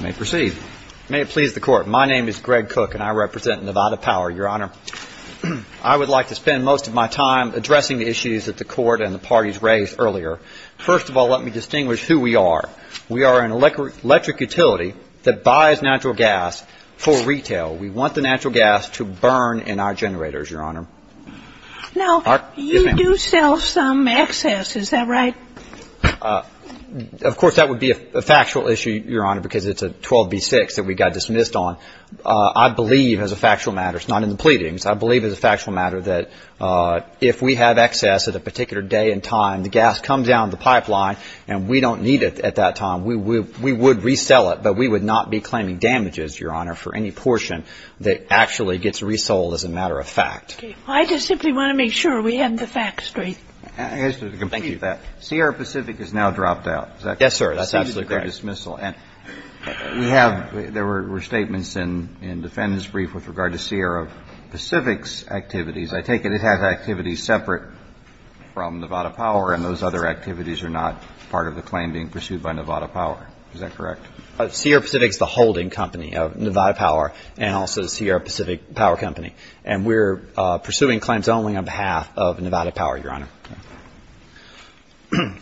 May it please the Court. My name is Greg Cook, and I represent Nevada Power, Your Honor. I would like to spend most of my time addressing the issues that the Court and the parties raised earlier. First of all, let me distinguish who we are. We are an electric utility that buys natural gas for retail. We want the natural gas to burn in our generators, Your Honor. Now, you do sell some excess, is that right? Of course, that would be a factual issue, Your Honor, because it's a 12B6 that we got dismissed on. I believe, as a factual matter, it's not in the pleadings. I believe as a factual matter that if we have excess at a particular day and time, the gas comes down the pipeline and we don't need it at that time. We would resell it, but we would not be claiming damages, Your Honor, for any portion that actually gets resold as a matter of fact. I just simply want to make sure we have the facts straight. I guess to complete that, Sierra Pacific is now dropped out, is that correct? Yes, sir. That's absolutely correct. That's the dismissal. And we have – there were statements in defendant's brief with regard to Sierra Pacific's activities. I take it it has activities separate from Nevada Power, and those other activities are not part of the claim being pursued by Nevada Power. Is that correct? Sierra Pacific is the holding company of Nevada Power and also the Sierra Pacific Power Company. And we're pursuing claims only on behalf of Nevada Power, Your Honor.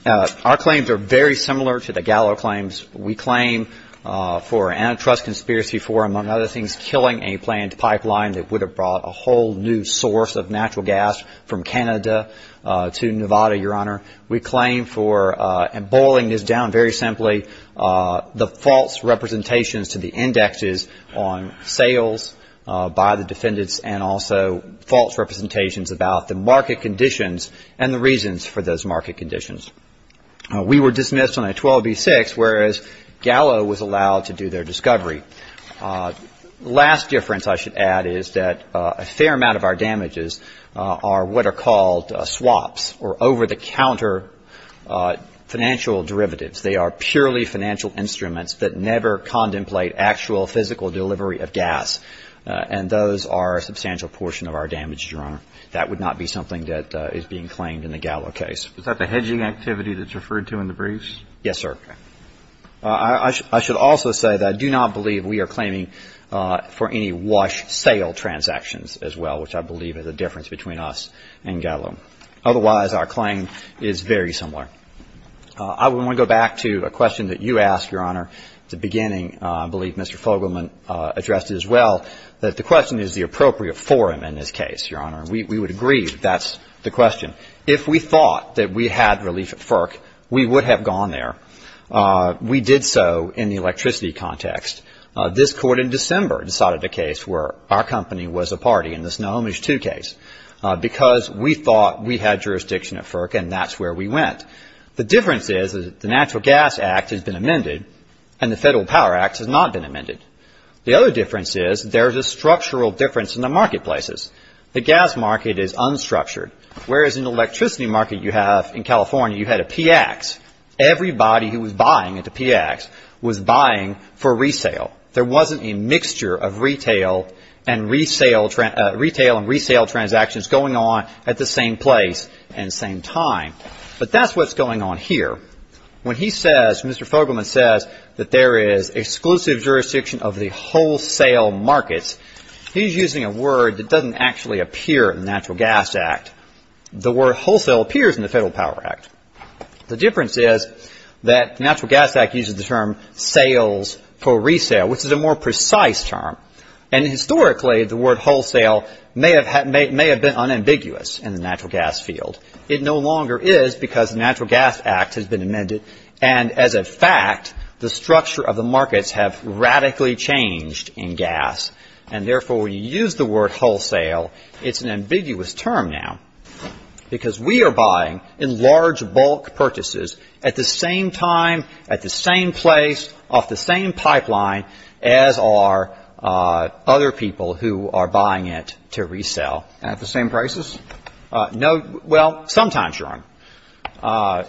Our claims are very similar to the Gallo claims. We claim for antitrust conspiracy for, among other things, killing a planned pipeline that would have brought a whole new source of natural gas from Canada to Nevada, Your Honor. We claim for, and boiling this down very simply, the false representations to the indexes on sales by the defendants and also false representations about the market conditions and the reasons for those market conditions. We were dismissed on a 12B6, whereas Gallo was allowed to do their discovery. Last difference I should add is that a fair amount of our damages are what are called swaps, or over-the-counter financial derivatives. They are purely financial instruments that never contemplate actual physical delivery of gas, and those are a substantial portion of our damages, Your Honor. That would not be something that is being claimed in the Gallo case. Is that the hedging activity that's referred to in the briefs? Yes, sir. I should also say that I do not believe we are claiming for any wash sale transactions as well, which I believe is a difference between us and Gallo. Otherwise, our claim is very similar. I want to go back to a question that you asked, Your Honor, at the beginning. I believe Mr. Fogelman addressed it as well, that the question is the appropriate forum in this case, Your Honor. We would agree that that's the question. If we thought that we had relief at FERC, we would have gone there. We did so in the electricity context. This Court in December decided a case where our company was a party in this No-Homage II case because we thought we had jurisdiction at FERC and that's where we went. The difference is the Natural Gas Act has been amended and the Federal Power Act has not been amended. The other difference is there's a structural difference in the marketplaces. The gas market is unstructured, whereas in the electricity market you have in California, you had a PX. Everybody who was buying at the PX was buying for resale. There wasn't a mixture of retail and resale transactions going on at the same place and same time. But that's what's going on here. When he says, Mr. Fogelman says that there is exclusive jurisdiction of the wholesale markets, he's using a word that doesn't actually appear in the Natural Gas Act. The word wholesale appears in the Federal Power Act. The difference is that the Natural Gas Act uses the term sales for resale, which is a more precise term, and historically the word wholesale may have been unambiguous in the natural gas field. It no longer is because the Natural Gas Act has been amended, and as a fact the structure of the markets have radically changed in gas, and therefore when you use the word wholesale, it's an ambiguous term now, because we are buying in large bulk purchases at the same time, at the same place, off the same pipeline as are other people who are buying it to resell. At the same prices? Well, sometimes, Your Honor.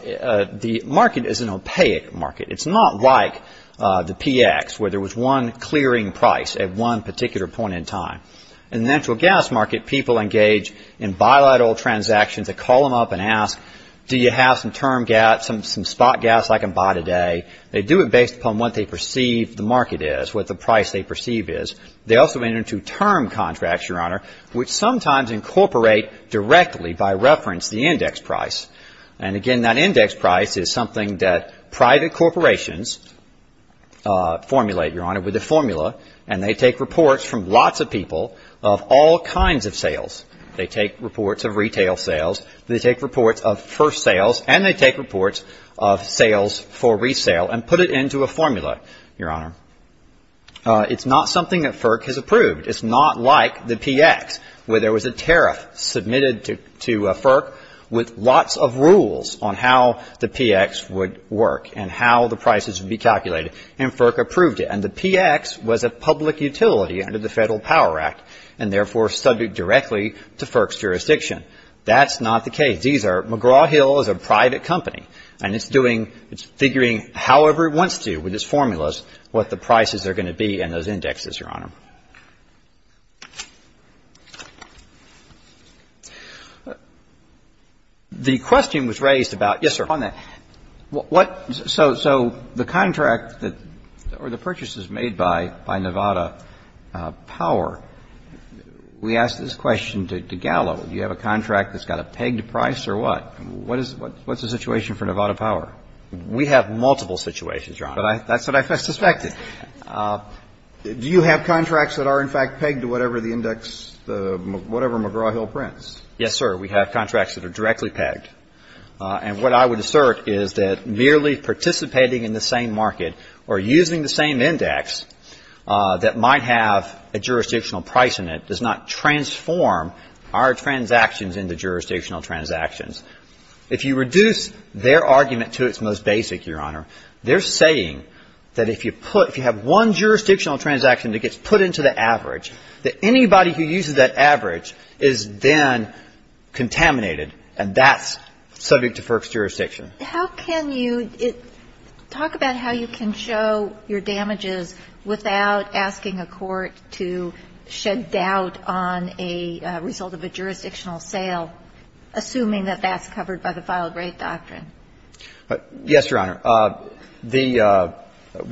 The market is an opaque market. It's not like the PX, where there was one clearing price at one particular point in time. In the natural gas market, people engage in bilateral transactions. They call them up and ask, do you have some spot gas I can buy today? They do it based upon what they perceive the market is, what the price they perceive is. They also enter into term contracts, Your Honor, which sometimes incorporate directly by reference the index price. And again, that index price is something that private corporations formulate, Your Honor, with a formula, and they take reports from lots of people of all kinds of sales. They take reports of retail sales, they take reports of first sales, and they take reports of sales for resale and put it into a formula, Your Honor. It's not something that FERC has approved. It's not like the PX, where there was a tariff submitted to FERC with lots of rules on how the PX would work and how the prices would be calculated, and FERC approved it. And the PX was a public utility under the Federal Power Act and therefore subject directly to FERC's jurisdiction. That's not the case. These are McGraw-Hill is a private company, and it's doing, it's figuring however it wants to with its formulas, what the prices are going to be in those indexes, Your Honor. The question was raised about the contract or the purchases made by Nevada Power. We asked this question to Gallo. Do you have a contract that's got a pegged price or what? What's the situation for Nevada Power? We have multiple situations, Your Honor. But that's what I suspected. Do you have contracts that are in fact pegged to whatever the index, whatever McGraw-Hill prints? Yes, sir. We have contracts that are directly pegged. And what I would assert is that merely participating in the same market or using the same index that might have a jurisdictional price in it does not transform our transactions into jurisdictional transactions. If you reduce their argument to its most basic, Your Honor, they're saying that if you put, if you have one jurisdictional transaction that gets put into the average, that anybody who uses that average is then contaminated, and that's subject to FERC's jurisdiction. How can you talk about how you can show your damages without asking a court to shed doubt on a result of a jurisdictional sale, assuming that that's covered by the filed rate doctrine? Yes, Your Honor. The,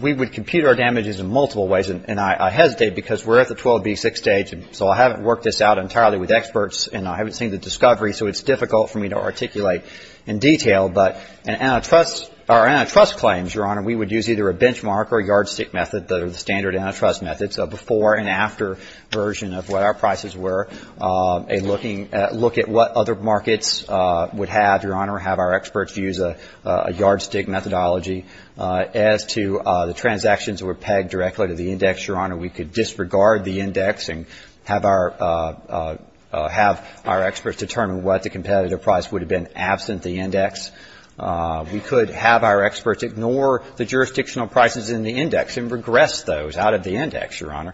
we would compute our damages in multiple ways, and I hesitate because we're at the 12B6 stage, and so I haven't worked this out entirely with experts, and I haven't seen the discovery, so it's difficult for me to articulate in detail. But an antitrust, our antitrust claims, Your Honor, we would use either a benchmark or yardstick method that are the standard antitrust methods, a before and after version of what our prices were, a looking at, look at what other markets would have, Your Honor, have our experts use a yardstick methodology. As to the transactions that were pegged directly to the index, Your Honor, we could disregard the index and have our, have our experts determine what the competitive price would have been absent the index. We could have our experts ignore the jurisdictional prices in the index and regress those out of the index, Your Honor.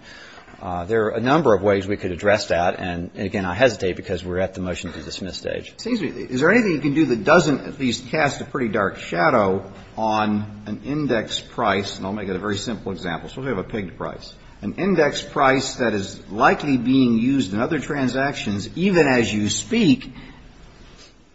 There are a number of ways we could address that, and again, I hesitate because we're at the motion to dismiss stage. It seems to me, is there anything you can do that doesn't at least cast a pretty dark shadow on an index price, and I'll make it a very simple example. Suppose we have a pegged price. An index price that is likely being used in other transactions, even as you speak,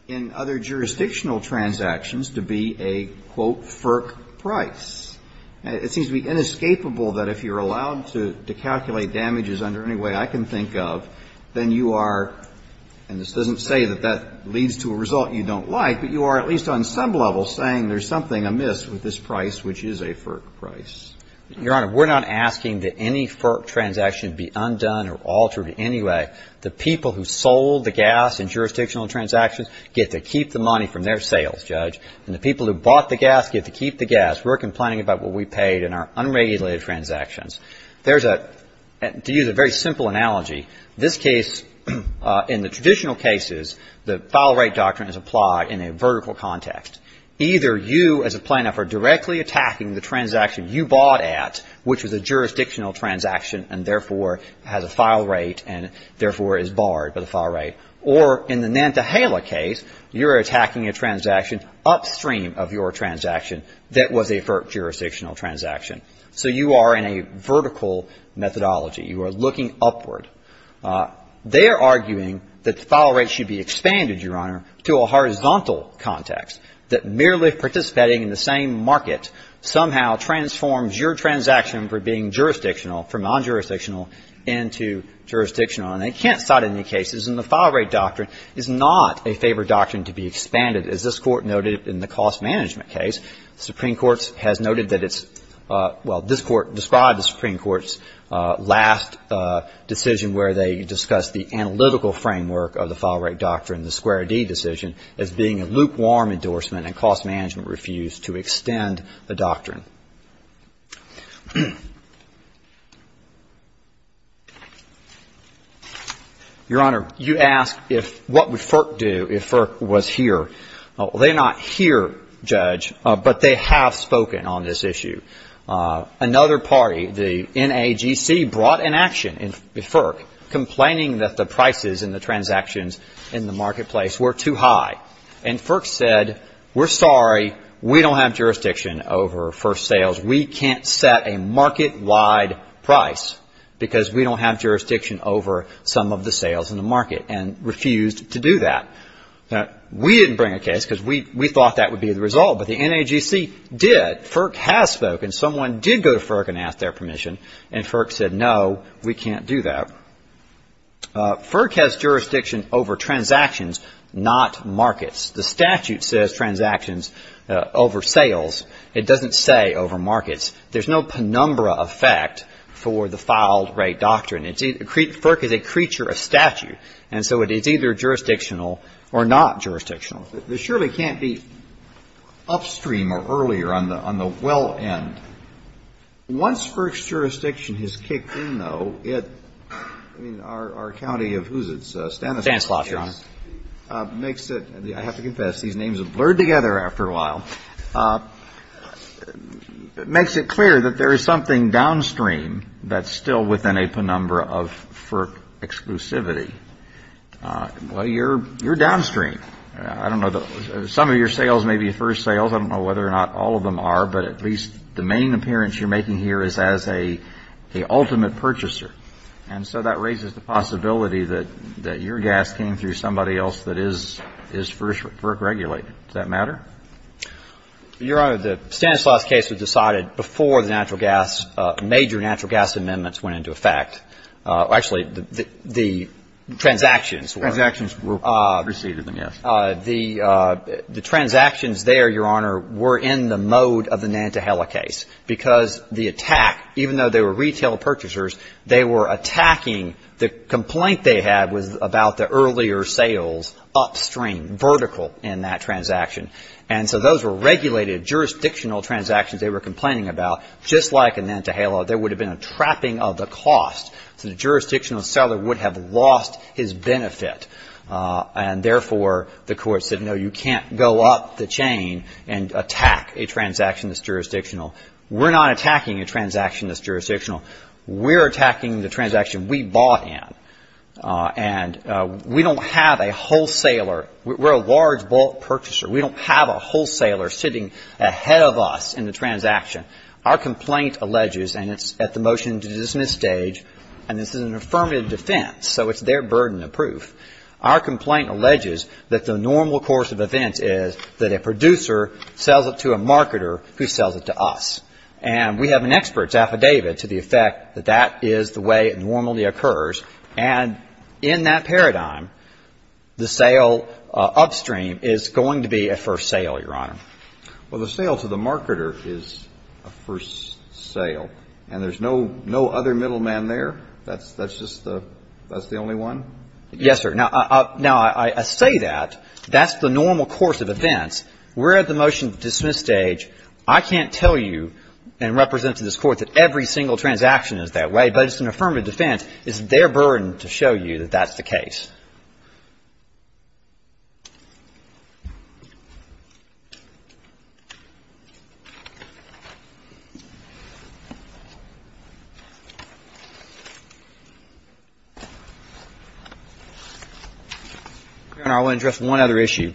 in other jurisdictional transactions to be a, quote, FERC price. It seems to be inescapable that if you're allowed to calculate damages under any way I can think of, then you are, and this doesn't say that that leads to a result you don't like, but you are at least on some level saying there's something amiss with this price, which is a FERC price. Your Honor, we're not asking that any FERC transaction be undone or altered in any way. The people who sold the gas in jurisdictional transactions get to keep the money from their sales, Judge. And the people who bought the gas get to keep the gas. We're complaining about what we paid in our unregulated transactions. There's a, to use a very simple analogy, this case, in the traditional cases, the file rate doctrine is applied in a vertical context. Either you as a plaintiff are directly attacking the transaction you bought at, which was a jurisdictional transaction and therefore has a file rate and therefore is barred by the file rate, or in the Nantahala case, you're attacking a transaction upstream of your transaction that was a FERC jurisdictional transaction. So you are in a vertical methodology. You are looking upward. They are arguing that the file rate should be expanded, Your Honor, to a horizontal context, that merely participating in the same market somehow transforms your transaction for being jurisdictional, from non-jurisdictional into jurisdictional. And they can't cite any cases in the file rate doctrine is not a favor doctrine to be expanded, as this Court noted in the cost management case. The Supreme Court has noted that it's, well, this Court described the Supreme Court's last decision where they discussed the analytical framework of the file rate doctrine, the square D decision, as being a lukewarm endorsement and cost management refused to extend the doctrine. Your Honor, you ask what would FERC do if FERC was here. Well, they're not here, Judge, but they have spoken on this issue. Another party, the NAGC, brought an action, FERC, complaining that the prices in the transactions in the marketplace were too high. And FERC said, we're sorry, we don't have jurisdiction over first sales. We can't set a market-wide price because we don't have jurisdiction over some of the sales in the market, and refused to do that. Now, we didn't bring a case because we thought that would be the result, but the NAGC did. FERC has spoken. Someone did go to FERC and ask their permission, and FERC said, no, we can't do that. FERC has jurisdiction over transactions, not markets. The statute says transactions over sales. It doesn't say over markets. There's no penumbra effect for the filed rate doctrine. FERC is a creature of statute, and so it's either jurisdictional or not jurisdictional. It surely can't be upstream or earlier on the well end. Once FERC's jurisdiction has kicked in, though, it, I mean, our county of, who's it, Stanislaus, Your Honor, makes it, I have to confess, these names have blurred together after a while, makes it clear that there is something downstream that's still within a penumbra of FERC exclusivity. Well, you're downstream. I don't know. Some of your sales may be first sales. I don't know whether or not all of them are, but at least the main appearance you're making here is as a ultimate purchaser. And so that raises the possibility that your gas came through somebody else that is FERC regulated. Does that matter? Your Honor, the Stanislaus case was decided before the natural gas, major natural gas amendments went into effect. Actually, the transactions were. Transactions were. Received them, yes. The transactions there, Your Honor, were in the mode of the Nantahala case because the attack, even though they were retail purchasers, they were attacking, the complaint they had was about the earlier sales upstream, vertical in that transaction. And so those were regulated jurisdictional transactions they were complaining about. Just like in Nantahala, there would have been a trapping of the cost. So the jurisdictional seller would have lost his benefit. And, therefore, the Court said, no, you can't go up the chain and attack a transaction that's jurisdictional. We're not attacking a transaction that's jurisdictional. We're attacking the transaction we bought in. And we don't have a wholesaler. We're a large bulk purchaser. We don't have a wholesaler sitting ahead of us in the transaction. Our complaint alleges, and it's at the motion to dismiss stage, and this is an affirmative defense, so it's their burden of proof. Our complaint alleges that the normal course of events is that a producer sells it to a marketer who sells it to us. And we have an expert's affidavit to the effect that that is the way it normally occurs. And in that paradigm, the sale upstream is going to be a first sale, Your Honor. Well, the sale to the marketer is a first sale, and there's no other middleman there? That's just the only one? Yes, sir. Now, I say that. That's the normal course of events. We're at the motion to dismiss stage. I can't tell you and represent to this Court that every single transaction is that way, but it's an affirmative defense. It's their burden to show you that that's the case. Your Honor, I want to address one other issue,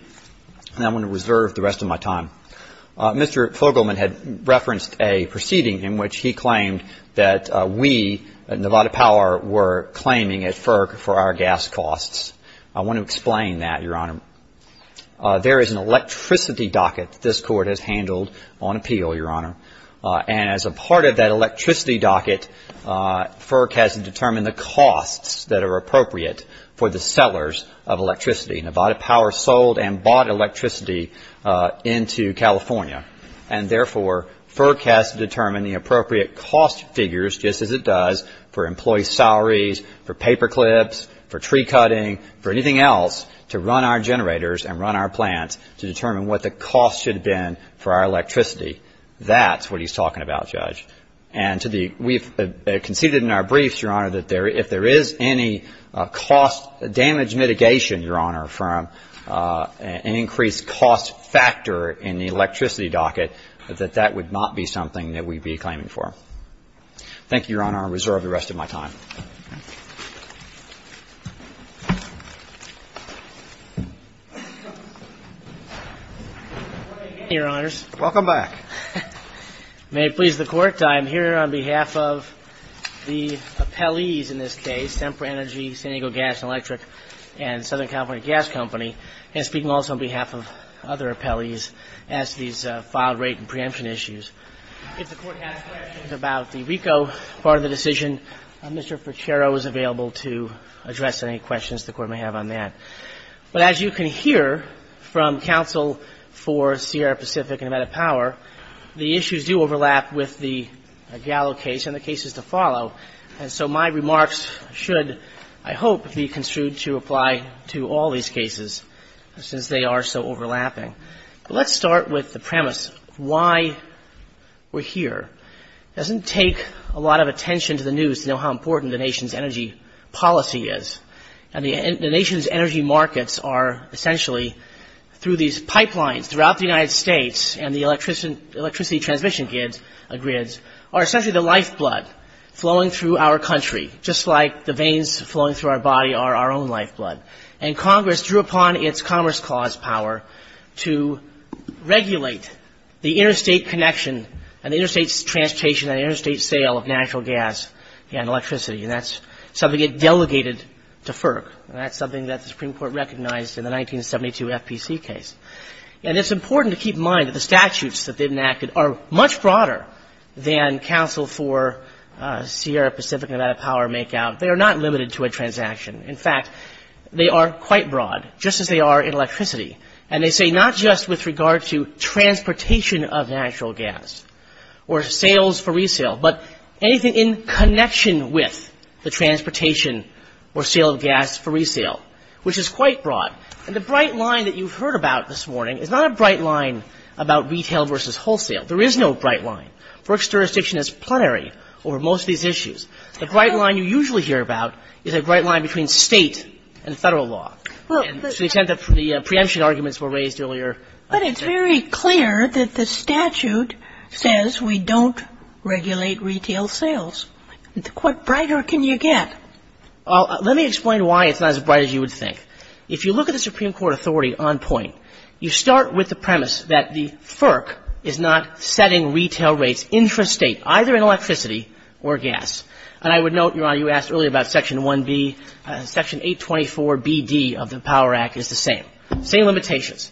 and I'm going to reserve the rest of my time. Mr. Fogelman had referenced a proceeding in which he claimed that we at Nevada Power were claiming at FERC for our gas costs. I want to explain that, Your Honor. There is an electricity docket that this Court has handled on appeal, Your Honor. And as a part of that electricity docket, FERC has to determine the costs that are appropriate for the sellers of electricity. Nevada Power sold and bought electricity into California, and therefore FERC has to determine the appropriate cost figures, just as it does for employee salaries, for paperclips, for tree cutting, for anything else to run our generators and run our plants to determine what the cost should have been for our electricity. That's what he's talking about, Judge. And we've conceded in our briefs, Your Honor, that if there is any cost damage mitigation, Your Honor, from an increased cost factor in the electricity docket, that that would not be something that we'd be claiming for. Thank you, Your Honor. I'll reserve the rest of my time. Your Honors. Welcome back. May it please the Court, I am here on behalf of the appellees in this case, Semper Energy, San Diego Gas and Electric, and Southern California Gas Company, and speaking also on behalf of other appellees as to these file rate and preemption issues. If the Court has questions about the RICO part of the decision, Mr. Ferchero is available to address any questions the Court may have on that. But as you can hear from counsel for Sierra Pacific and Nevada Power, the issues do overlap with the Gallo case and the cases to follow. And so my remarks should, I hope, be construed to apply to all these cases, since they are so overlapping. But let's start with the premise of why we're here. It doesn't take a lot of attention to the news to know how important the nation's energy policy is. And the nation's energy markets are essentially through these pipelines throughout the United States and the electricity transmission grids are essentially the lifeblood flowing through our country, just like the veins flowing through our body are our own lifeblood. And Congress drew upon its Commerce Clause power to regulate the interstate connection and the interstate transportation and interstate sale of natural gas and electricity. And that's something it delegated to FERC. And that's something that the Supreme Court recognized in the 1972 FPC case. And it's important to keep in mind that the statutes that they've enacted are much broader than counsel for Sierra Pacific and Nevada Power make out. They are not limited to a transaction. In fact, they are quite broad, just as they are in electricity. And they say not just with regard to transportation of natural gas or sales for resale, but anything in connection with the transportation or sale of gas for resale, which is quite broad. And the bright line that you've heard about this morning is not a bright line about retail versus wholesale. There is no bright line. FERC's jurisdiction is plenary over most of these issues. The bright line you usually hear about is a bright line between State and Federal law. And to the extent that the preemption arguments were raised earlier. But it's very clear that the statute says we don't regulate retail sales. What brighter can you get? Well, let me explain why it's not as bright as you would think. If you look at the Supreme Court authority on point, you start with the premise that the FERC is not setting retail rates intrastate, either in electricity or gas. And I would note, Your Honor, you asked earlier about Section 1B. Section 824BD of the Power Act is the same. Same limitations.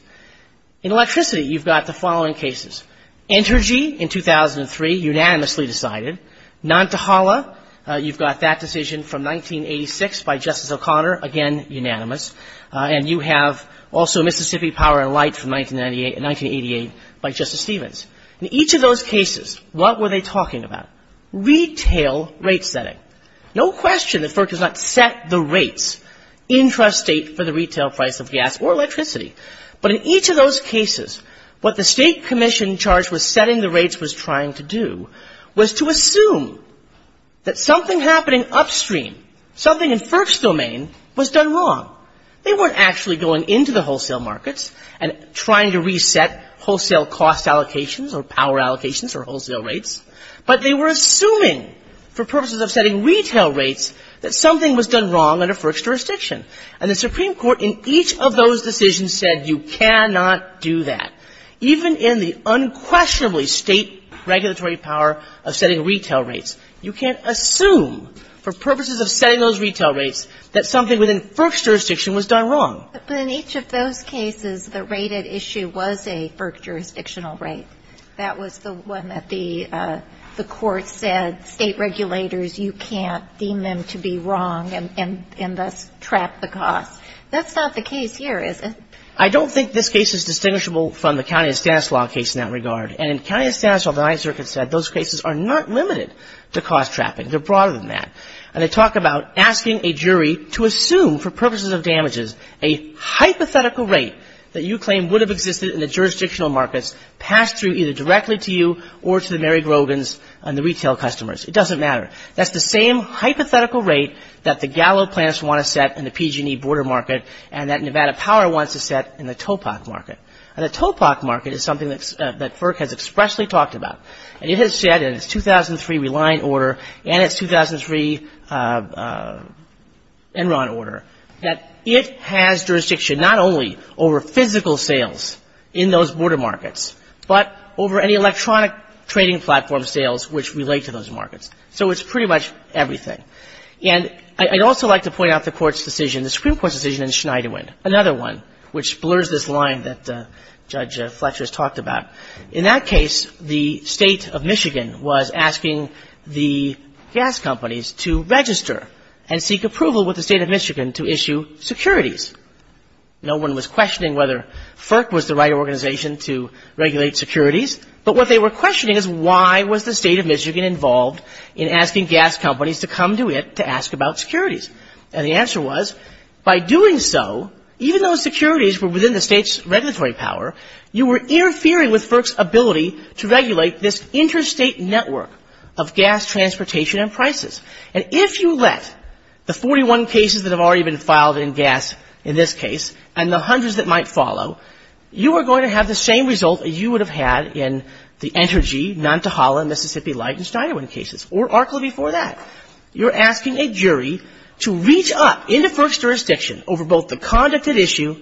In electricity, you've got the following cases. Entergy in 2003, unanimously decided. Nantahala, you've got that decision from 1986 by Justice O'Connor. Again, unanimous. And you have also Mississippi Power and Light from 1988 by Justice Stevens. In each of those cases, what were they talking about? Retail rate setting. No question that FERC does not set the rates intrastate for the retail price of gas or electricity. But in each of those cases, what the state commission charged with setting the rates was trying to do was to assume that something happening upstream, something in FERC's domain, was done wrong. They weren't actually going into the wholesale markets and trying to reset wholesale cost allocations or power allocations or wholesale rates, but they were assuming for purposes of setting retail rates that something was done wrong under FERC's jurisdiction. And the Supreme Court in each of those decisions said you cannot do that. Even in the unquestionably state regulatory power of setting retail rates, you can't assume for purposes of setting those retail rates that something within FERC's jurisdiction was done wrong. But in each of those cases, the rated issue was a FERC jurisdictional rate. That was the one that the court said state regulators, you can't deem them to be wrong and thus trap the cost. That's not the case here, is it? I don't think this case is distinguishable from the county and status law case in that regard. And in county and status law, the Ninth Circuit said those cases are not limited to cost trapping. They're broader than that. And they talk about asking a jury to assume for purposes of damages a hypothetical rate that you claim would have existed in the jurisdictional markets passed through either directly to you or to the Mary Grogan's and the retail customers. It doesn't matter. That's the same hypothetical rate that the Gallo plans want to set in the PG&E border market and that Nevada Power wants to set in the TOPOC market. And the TOPOC market is something that FERC has expressly talked about. And it has said in its 2003 Reliant Order and its 2003 Enron Order that it has jurisdiction not only over physical sales in those border markets, but over any electronic trading platform sales which relate to those markets. So it's pretty much everything. And I'd also like to point out the Court's decision, the Supreme Court's decision in Schneiderwind, another one which blurs this line that Judge Fletcher has talked about. In that case, the State of Michigan was asking the gas companies to register and seek approval with the State of Michigan to issue securities. No one was questioning whether FERC was the right organization to regulate securities, but what they were questioning is why was the State of Michigan involved in asking gas companies to come to it to ask about securities. And the answer was, by doing so, even though securities were within the State's regulatory power, you were interfering with FERC's ability to regulate this interstate network of gas transportation and prices. And if you let the 41 cases that have already been filed in gas in this case and the hundreds that might follow, you are going to have the same result that you would have had in the Entergy, Nantahala, Mississippi Light, and Schneiderwind cases, or ARCA before that. You're asking a jury to reach up into FERC's jurisdiction over both the conduct at issue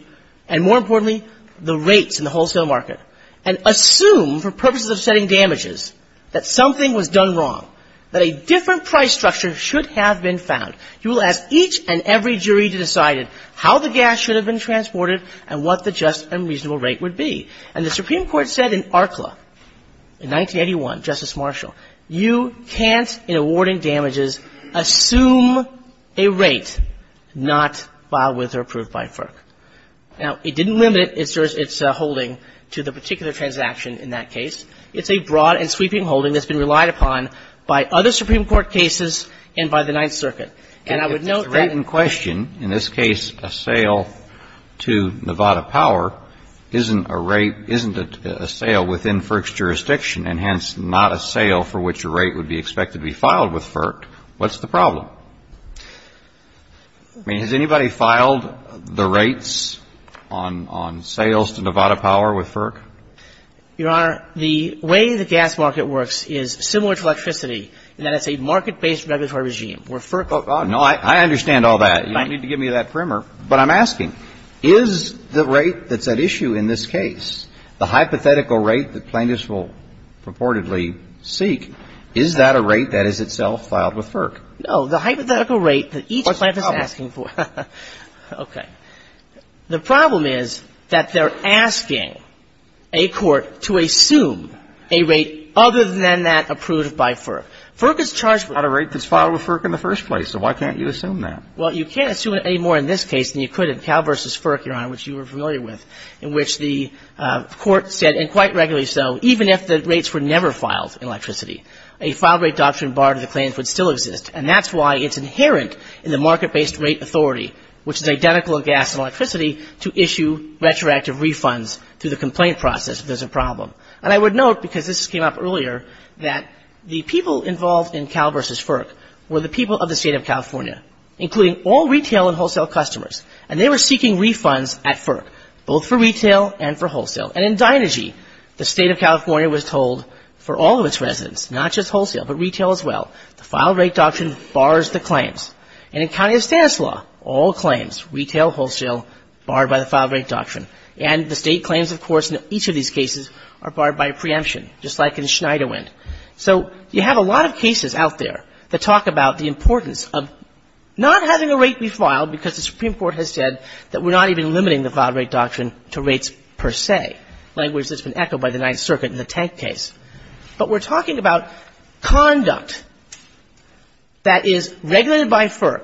and, more importantly, the rates in the wholesale market, and assume, for purposes of setting damages, that something was done wrong, that a different price structure should have been found. You will ask each and every jury to decide how the gas should have been transported and what the just and reasonable rate would be. And the Supreme Court said in ARCLA in 1981, Justice Marshall, you can't, in awarding damages, assume a rate not filed with or approved by FERC. Now, it didn't limit its holding to the particular transaction in that case. It's a broad and sweeping holding that's been relied upon by other Supreme Court cases and by the Ninth Circuit. And I would note that the rate in question, in this case a sale to Nevada Power, isn't a rate, isn't a sale within FERC's jurisdiction and, hence, not a sale for which a rate would be expected to be filed with FERC. What's the problem? I mean, has anybody filed the rates on sales to Nevada Power with FERC? Your Honor, the way the gas market works is similar to electricity in that it's a market-based regulatory regime So the question is, is that a rate that is itself filed with FERC or FERC? Oh, God, no. I understand all that. You don't need to give me that primer. But I'm asking, is the rate that's at issue in this case, the hypothetical rate that plaintiffs will purportedly seek, is that a rate that is itself filed with FERC? The hypothetical rate that each plaintiff is asking for. What's the problem? Okay. The problem is that they're asking a court to assume a rate other than that approved by FERC. FERC is charged with Not a rate that's filed with FERC in the first place, so why can't you assume that? Well, you can't assume it anymore in this case than you could in Cal v. FERC, Your Honor, which you were familiar with, in which the court said, and quite regularly so, even if the rates were never filed in electricity, a file rate doctrine barred in the claims would still exist. And that's why it's inherent in the market-based rate authority, which is identical in gas and electricity, to issue retroactive refunds through the complaint process if there's a problem. And I would note, because this came up earlier, that the people involved in Cal v. FERC were the people of the State of California, including all retail and wholesale customers. And they were seeking refunds at FERC, both for retail and for wholesale. And in Dynegy, the State of California was told for all of its residents, not just wholesale, but retail as well, the file rate doctrine bars the claims. And in County of Stanislaus, all claims, retail, wholesale, barred by the file rate doctrine. And the State claims, of course, in each of these cases are barred by a preemption, just like in Schneiderwind. So you have a lot of cases out there that talk about the importance of not having a rate be filed because the Supreme Court has said that we're not even limiting the file rate doctrine to rates per se, language that's been echoed by the Ninth Circuit in the tank case. But we're talking about conduct that is regulated by FERC,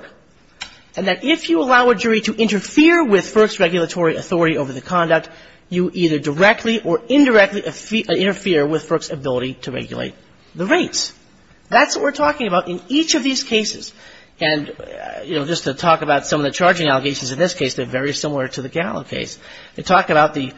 and that if you allow a jury to interfere with FERC's regulatory authority over the conduct, you either directly or indirectly interfere with FERC's ability to regulate the rates. That's what we're talking about in each of these cases. And, you know, just to talk about some of the charging allegations in this case, they're very similar to the Gallo case. They talk about the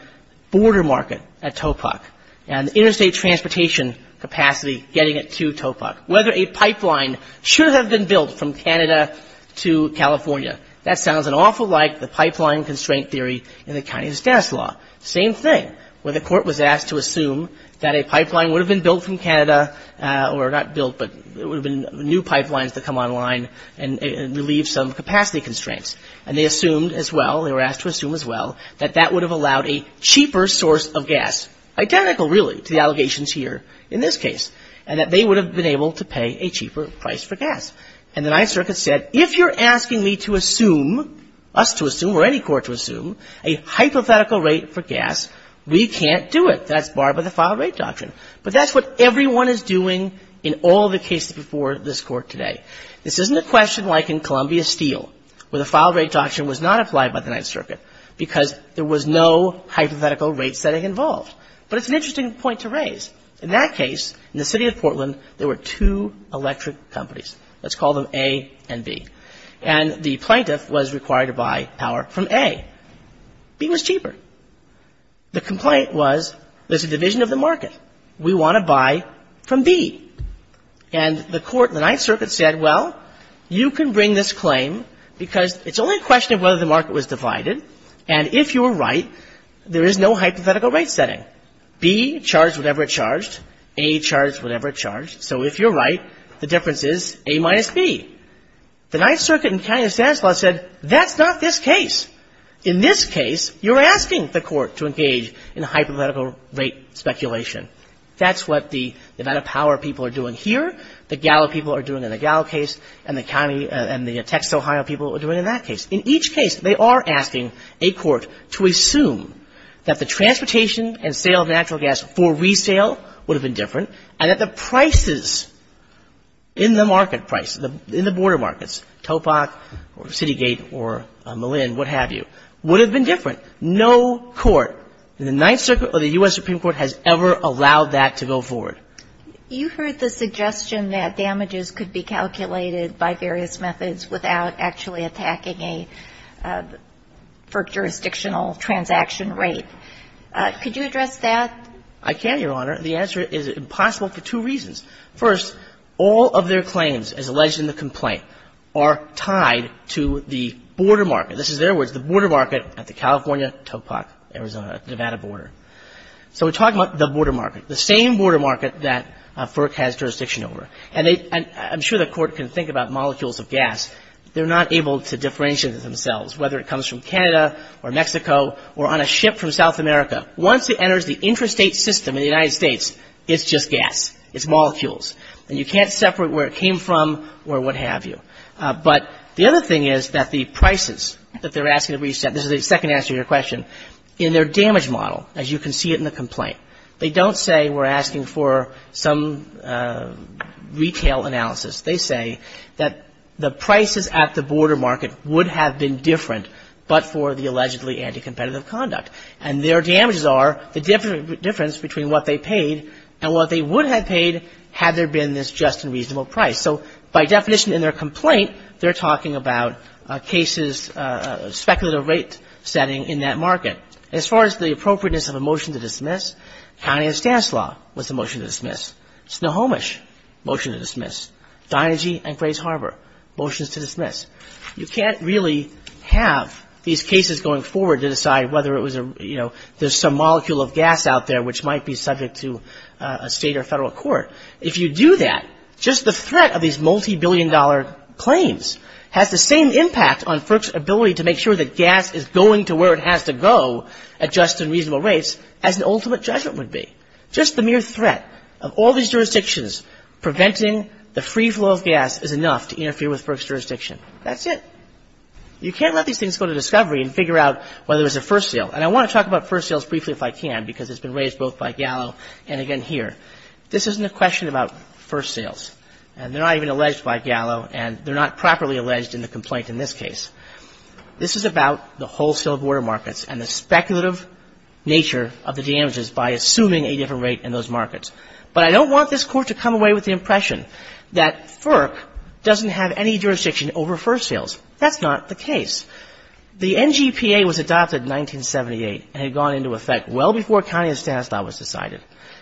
border market at Topak and interstate transportation capacity getting it to Topak, whether a pipeline should have been built from Canada to California. That sounds an awful like the pipeline constraint theory in the County of Stanislaus. Same thing, where the Court was asked to assume that a pipeline would have been built from Canada or not built, but there would have been new pipelines that come online and relieve some capacity constraints. And they assumed as well, they were asked to assume as well, that that would have allowed a cheaper source of gas, identical, really, to the allegations here in this case, and that they would have been able to pay a cheaper price for gas. And the Ninth Circuit said, if you're asking me to assume, us to assume or any court to assume, a hypothetical rate for gas, we can't do it. That's barred by the filed rate doctrine. But that's what everyone is doing in all the cases before this Court today. This isn't a question like in Columbia Steel, where the filed rate doctrine was not applied by the Ninth Circuit because there was no hypothetical rate setting involved. But it's an interesting point to raise. In that case, in the City of Portland, there were two electric companies. Let's call them A and B. And the plaintiff was required to buy power from A. B was cheaper. The complaint was, there's a division of the market. We want to buy from B. And the court in the Ninth Circuit said, well, you can bring this claim because it's only a question of whether the market was divided. And if you're right, there is no hypothetical rate setting. B charged whatever it charged. A charged whatever it charged. So if you're right, the difference is A minus B. The Ninth Circuit in County of Stanislaus said, that's not this case. In this case, you're asking the court to engage in hypothetical rate speculation. That's what the Nevada Power people are doing here. The Gallup people are doing in the Gallup case. And the county and the Texas, Ohio people are doing in that case. In each case, they are asking a court to assume that the transportation and sale of natural gas for resale would have been different. And that the prices in the market price, in the border markets, Topak or Citygate or Malin, what have you, would have been different. No court in the Ninth Circuit or the U.S. Supreme Court has ever allowed that to go forward. You heard the suggestion that damages could be calculated by various methods without actually attacking a jurisdictional transaction rate. Could you address that? I can, Your Honor. The answer is impossible for two reasons. First, all of their claims, as alleged in the complaint, are tied to the border market. This is their words, the border market at the California, Topak, Arizona, Nevada border. So we're talking about the border market, the same border market that FERC has jurisdiction over. And I'm sure the court can think about molecules of gas. They're not able to differentiate themselves, whether it comes from Canada or Mexico or on a ship from South America. Once it enters the interstate system in the United States, it's just gas. It's molecules. And you can't separate where it came from or what have you. But the other thing is that the prices that they're asking to reset, this is the second answer to your question, in their damage model, as you can see it in the complaint, they don't say we're asking for some retail analysis. They say that the prices at the border market would have been different, but for the allegedly anti-competitive conduct. And their damages are the difference between what they paid and what they would have paid had there been this just and reasonable price. So by definition in their complaint, they're talking about cases, speculative rate setting in that market. As far as the appropriateness of a motion to dismiss, County of Stanislaus was a motion to dismiss. Snohomish, motion to dismiss. Dynegy and Grays Harbor, motions to dismiss. You can't really have these cases going forward to decide whether it was a, you know, there's some molecule of gas out there which might be subject to a state or federal court. If you do that, just the threat of these multibillion-dollar claims has the same impact on FERC's ability to make sure that gas is going to where it has to go at just and reasonable rates as an ultimate judgment would be. Just the mere threat of all these jurisdictions preventing the free flow of gas is enough to interfere with FERC's jurisdiction. That's it. You can't let these things go to discovery and figure out whether it was a first sale. And I want to talk about first sales briefly if I can because it's been raised both by Gallo and again here. This isn't a question about first sales, and they're not even alleged by Gallo, and they're not properly alleged in the complaint in this case. This is about the wholesale border markets and the speculative nature of the damages by assuming a different rate in those markets. But I don't want this Court to come away with the impression that FERC doesn't have any jurisdiction over first sales. That's not the case. The NGPA was adopted in 1978 and had gone into effect well before County of Stanislaus was decided,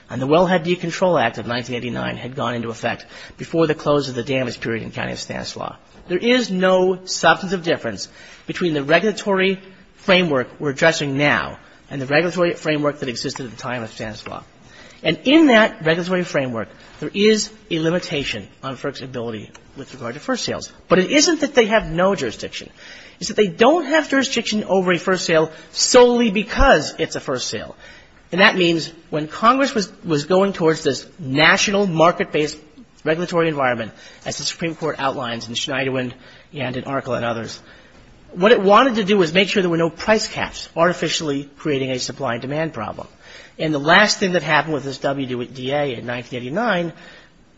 and the Wellhead Decontrol Act of 1989 had gone into effect before the close of the damage period in County of Stanislaus. There is no substantive difference between the regulatory framework we're addressing now and the regulatory framework that existed at the time of Stanislaus. And in that regulatory framework, there is a limitation on FERC's ability with regard to first sales. But it isn't that they have no jurisdiction. It's that they don't have jurisdiction over a first sale solely because it's a first sale. And that means when Congress was going towards this national market-based regulatory environment, as the Supreme Court outlines in Schneiderwind and in ARCLA and others, what it wanted to do was make sure there were no price caps artificially creating a supply and demand problem. And the last thing that happened with this WDA in 1989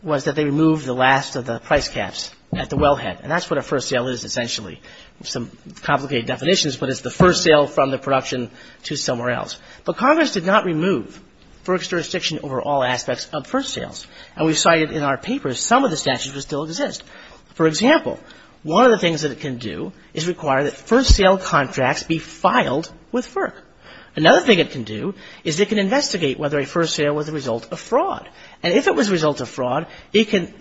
was that they removed the last of the price caps at the Wellhead, and that's what a first sale is essentially. Some complicated definitions, but it's the first sale from the production to somewhere else. But Congress did not remove FERC's jurisdiction over all aspects of first sales. And we cited in our papers some of the statutes that still exist. For example, one of the things that it can do is require that first sale contracts be filed with FERC. Another thing it can do is it can investigate whether a first sale was a result of fraud. And if it was a result of fraud, it can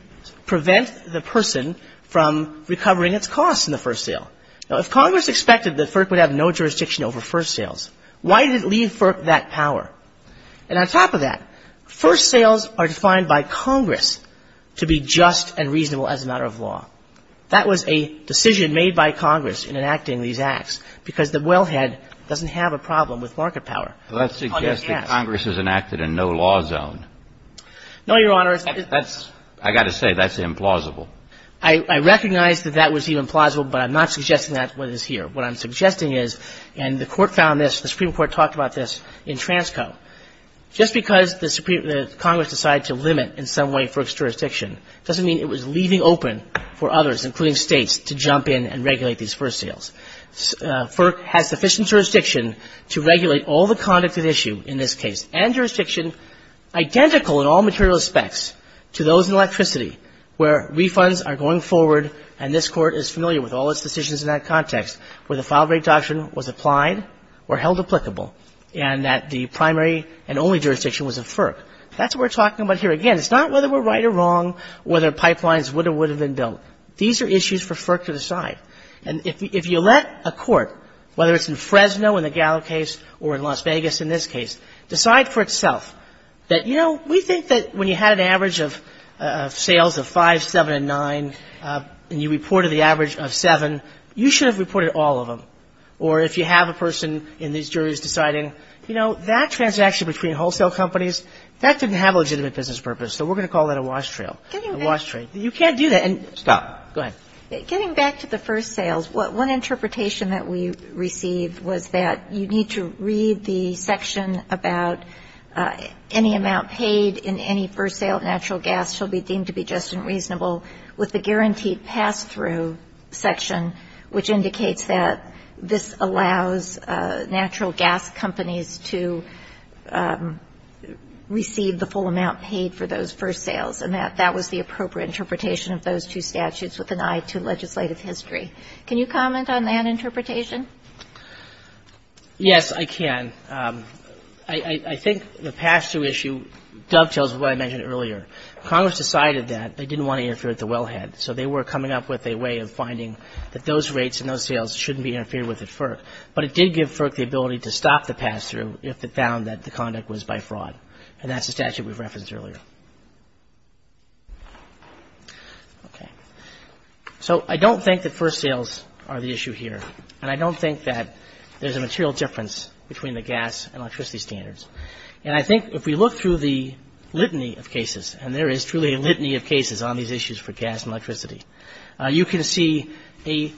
prevent the person from recovering its costs in the first sale. Now, if Congress expected that FERC would have no jurisdiction over first sales, why did it leave FERC that power? And on top of that, first sales are defined by Congress to be just and reasonable as a matter of law. That was a decision made by Congress in enacting these acts, because the Wellhead doesn't have a problem with market power on its hands. Well, that suggests that Congress has enacted a no-law zone. No, Your Honor. I've got to say, that's implausible. I recognize that that was implausible, but I'm not suggesting that one is here. What I'm suggesting is, and the Court found this, the Supreme Court talked about this in Transco, just because the Congress decided to limit in some way FERC's jurisdiction doesn't mean it was leaving open for others, including States, to jump in and regulate these first sales. FERC has sufficient jurisdiction to regulate all the conduct at issue in this case and jurisdiction identical in all material aspects to those in electricity where refunds are going forward and this Court is familiar with all its decisions in that context, where the file-break doctrine was applied or held applicable and that the primary and only jurisdiction was of FERC. That's what we're talking about here. Again, it's not whether we're right or wrong, whether pipelines would or would have been built. These are issues for FERC to decide. And if you let a court, whether it's in Fresno in the Gallo case or in Las Vegas in this case, decide for itself that, you know, we think that when you had an average of sales of 5, 7, and 9 and you reported the average of 7, you should have reported all of them. Or if you have a person in these juries deciding, you know, that transaction between wholesale companies, that didn't have legitimate business purpose, so we're going to call that a wash trail, a wash trail. You can't do that and stop. Go ahead. Getting back to the first sales, one interpretation that we received was that you need to read the section about any amount paid in any first sale of natural gas shall be deemed to be just and reasonable with the guaranteed pass-through section which indicates that this allows natural gas companies to receive the full amount paid for those first sales. And that that was the appropriate interpretation of those two statutes with an eye to legislative history. Can you comment on that interpretation? Yes, I can. I think the pass-through issue dovetails with what I mentioned earlier. Congress decided that they didn't want to interfere with the wellhead, so they were coming up with a way of finding that those rates and those sales shouldn't be interfered with at FERC. But it did give FERC the ability to stop the pass-through if it found that the conduct was by fraud, and that's the statute we referenced earlier. So I don't think that first sales are the issue here, and I don't think that there's a material difference between the gas and electricity standards. And I think if we look through the litany of cases, and there is truly a litany of cases on these issues for gas and electricity, you can see an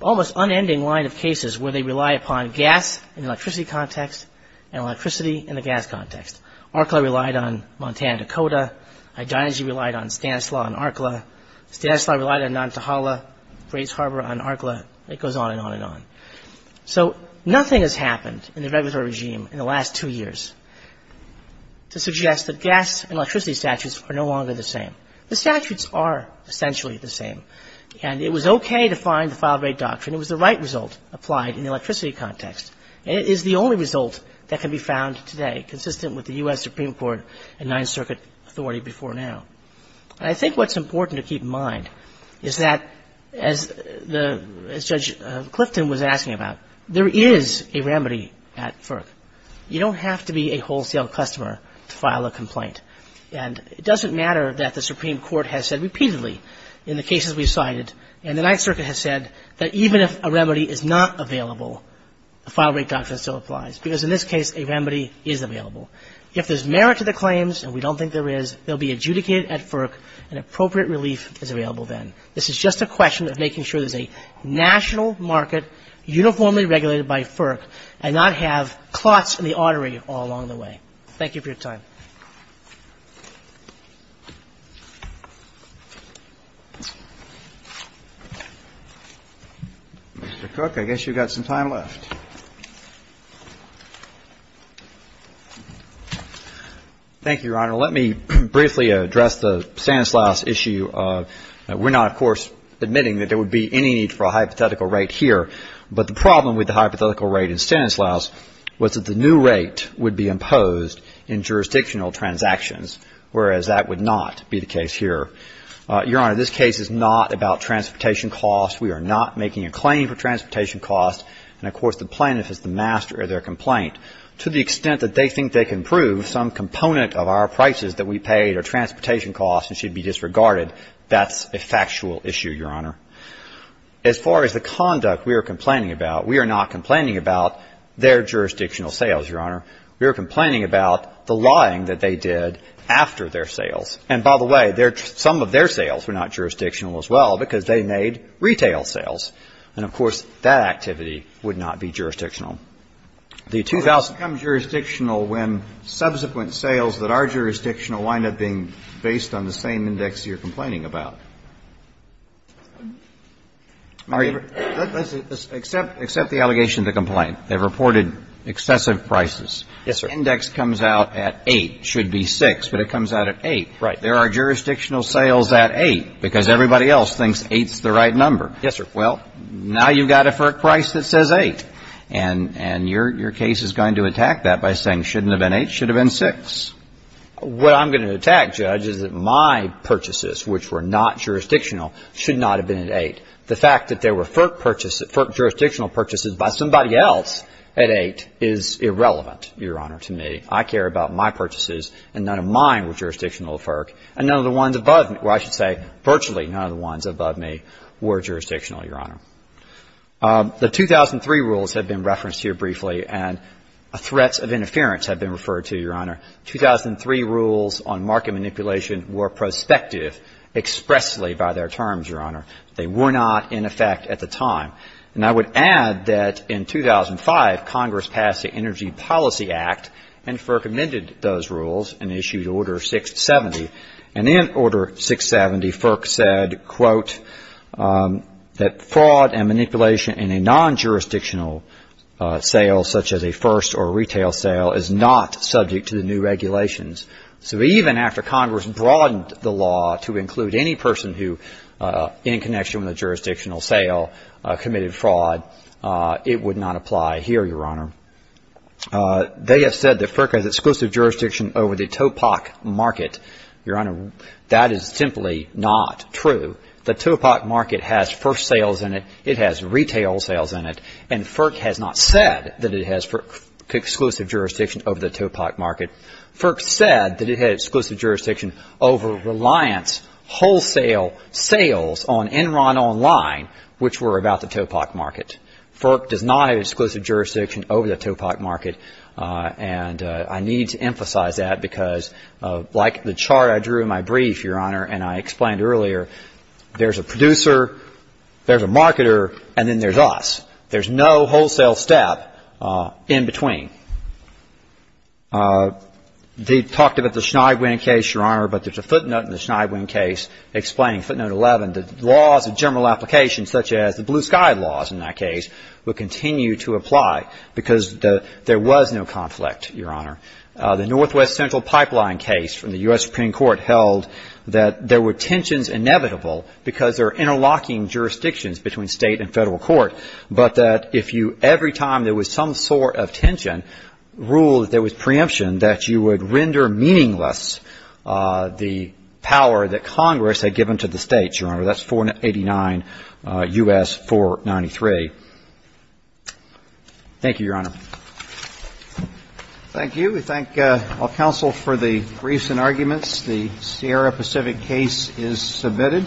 almost unending line of cases where they rely upon gas in the electricity context and electricity in the gas context. ARCLA relied on Montana-Dakota. Hygiene and Energy relied on Stanislaus and ARCLA. Stanislaus relied on Nantahala, Grays Harbor on ARCLA. It goes on and on and on. So nothing has happened in the regulatory regime in the last two years to suggest that gas and electricity statutes are no longer the same. The statutes are essentially the same. And it was okay to find the file rate doctrine. It was the right result applied in the electricity context. It is the only result that can be found today, consistent with the U.S. Supreme Court and Ninth Circuit authority before now. And I think what's important to keep in mind is that as Judge Clifton was asking about, there is a remedy at FERC. You don't have to be a wholesale customer to file a complaint. And it doesn't matter that the Supreme Court has said repeatedly in the cases we cited and the Ninth Circuit has said that even if a remedy is not available, the file rate doctrine still applies because in this case a remedy is available. If there's merit to the claims, and we don't think there is, they'll be adjudicated at FERC and appropriate relief is available then. This is just a question of making sure there's a national market uniformly regulated by FERC and not have clots in the artery all along the way. Thank you for your time. Mr. Cook, I guess you've got some time left. Thank you, Your Honor. Let me briefly address the Stanislaus issue. We're not, of course, admitting that there would be any need for a hypothetical rate here, but the problem with the hypothetical rate in Stanislaus was that the new rate would be imposed in jurisdictional transactions, whereas that would not be the case here. Your Honor, this case is not about transportation costs. We are not making a claim for transportation costs. And, of course, the plaintiff is the master of their complaint. To the extent that they think they can prove some component of our prices that we paid are transportation costs and should be disregarded, that's a factual issue, Your Honor. As far as the conduct we are complaining about, we are not complaining about their jurisdictional sales, Your Honor. We are complaining about the lying that they did after their sales. And, by the way, some of their sales were not jurisdictional as well because they made retail sales. And, of course, that activity would not be jurisdictional. It becomes jurisdictional when subsequent sales that are jurisdictional wind up being based on the same index you're complaining about. My favor, let's accept the allegation of the complaint. They've reported excessive prices. Yes, sir. Index comes out at 8, should be 6, but it comes out at 8. Right. There are jurisdictional sales at 8 because everybody else thinks 8 is the right number. Yes, sir. Well, now you've got it for a price that says 8. And your case is going to attack that by saying shouldn't have been 8, should have been 6. What I'm going to attack, Judge, is that my purchases, which were not jurisdictional, should not have been at 8. The fact that there were FERC jurisdictional purchases by somebody else at 8 is irrelevant, Your Honor, to me. I care about my purchases, and none of mine were jurisdictional to FERC, and none of the ones above me or I should say virtually none of the ones above me were jurisdictional, Your Honor. The 2003 rules have been referenced here briefly, and threats of interference have been referred to, Your Honor. 2003 rules on market manipulation were prospective expressly by their terms, Your Honor. They were not in effect at the time. And I would add that in 2005, Congress passed the Energy Policy Act, and FERC amended those rules and issued Order 670. And in Order 670, FERC said, quote, that fraud and manipulation in a non-jurisdictional sale such as a first or retail sale is not subject to the new regulations. So even after Congress broadened the law to include any person who, in connection with a jurisdictional sale, committed fraud, it would not apply here, Your Honor. They have said that FERC has exclusive jurisdiction over the TOPOC market. Your Honor, that is simply not true. The TOPOC market has first sales in it. It has retail sales in it. And FERC has not said that it has exclusive jurisdiction over the TOPOC market. FERC said that it had exclusive jurisdiction over reliance wholesale sales on Enron Online, which were about the TOPOC market. FERC does not have exclusive jurisdiction over the TOPOC market. And I need to emphasize that because, like the chart I drew in my brief, Your Honor, and I explained earlier, there's a producer, there's a marketer, and then there's us. There's no wholesale step in between. They talked about the Schneidwien case, Your Honor, but there's a footnote in the Schneidwien case explaining footnote 11, that laws and general applications such as the Blue Sky laws in that case would continue to apply because there was no conflict, Your Honor. The Northwest Central Pipeline case from the U.S. Supreme Court held that there were tensions inevitable because there are interlocking jurisdictions between state and federal court, but that if you every time there was some sort of tension ruled that there was preemption, that you would render meaningless the power that Congress had given to the states, Your Honor. That's 489 U.S. 493. Thank you, Your Honor. Thank you. We thank all counsel for the briefs and arguments. The Sierra Pacific case is submitted.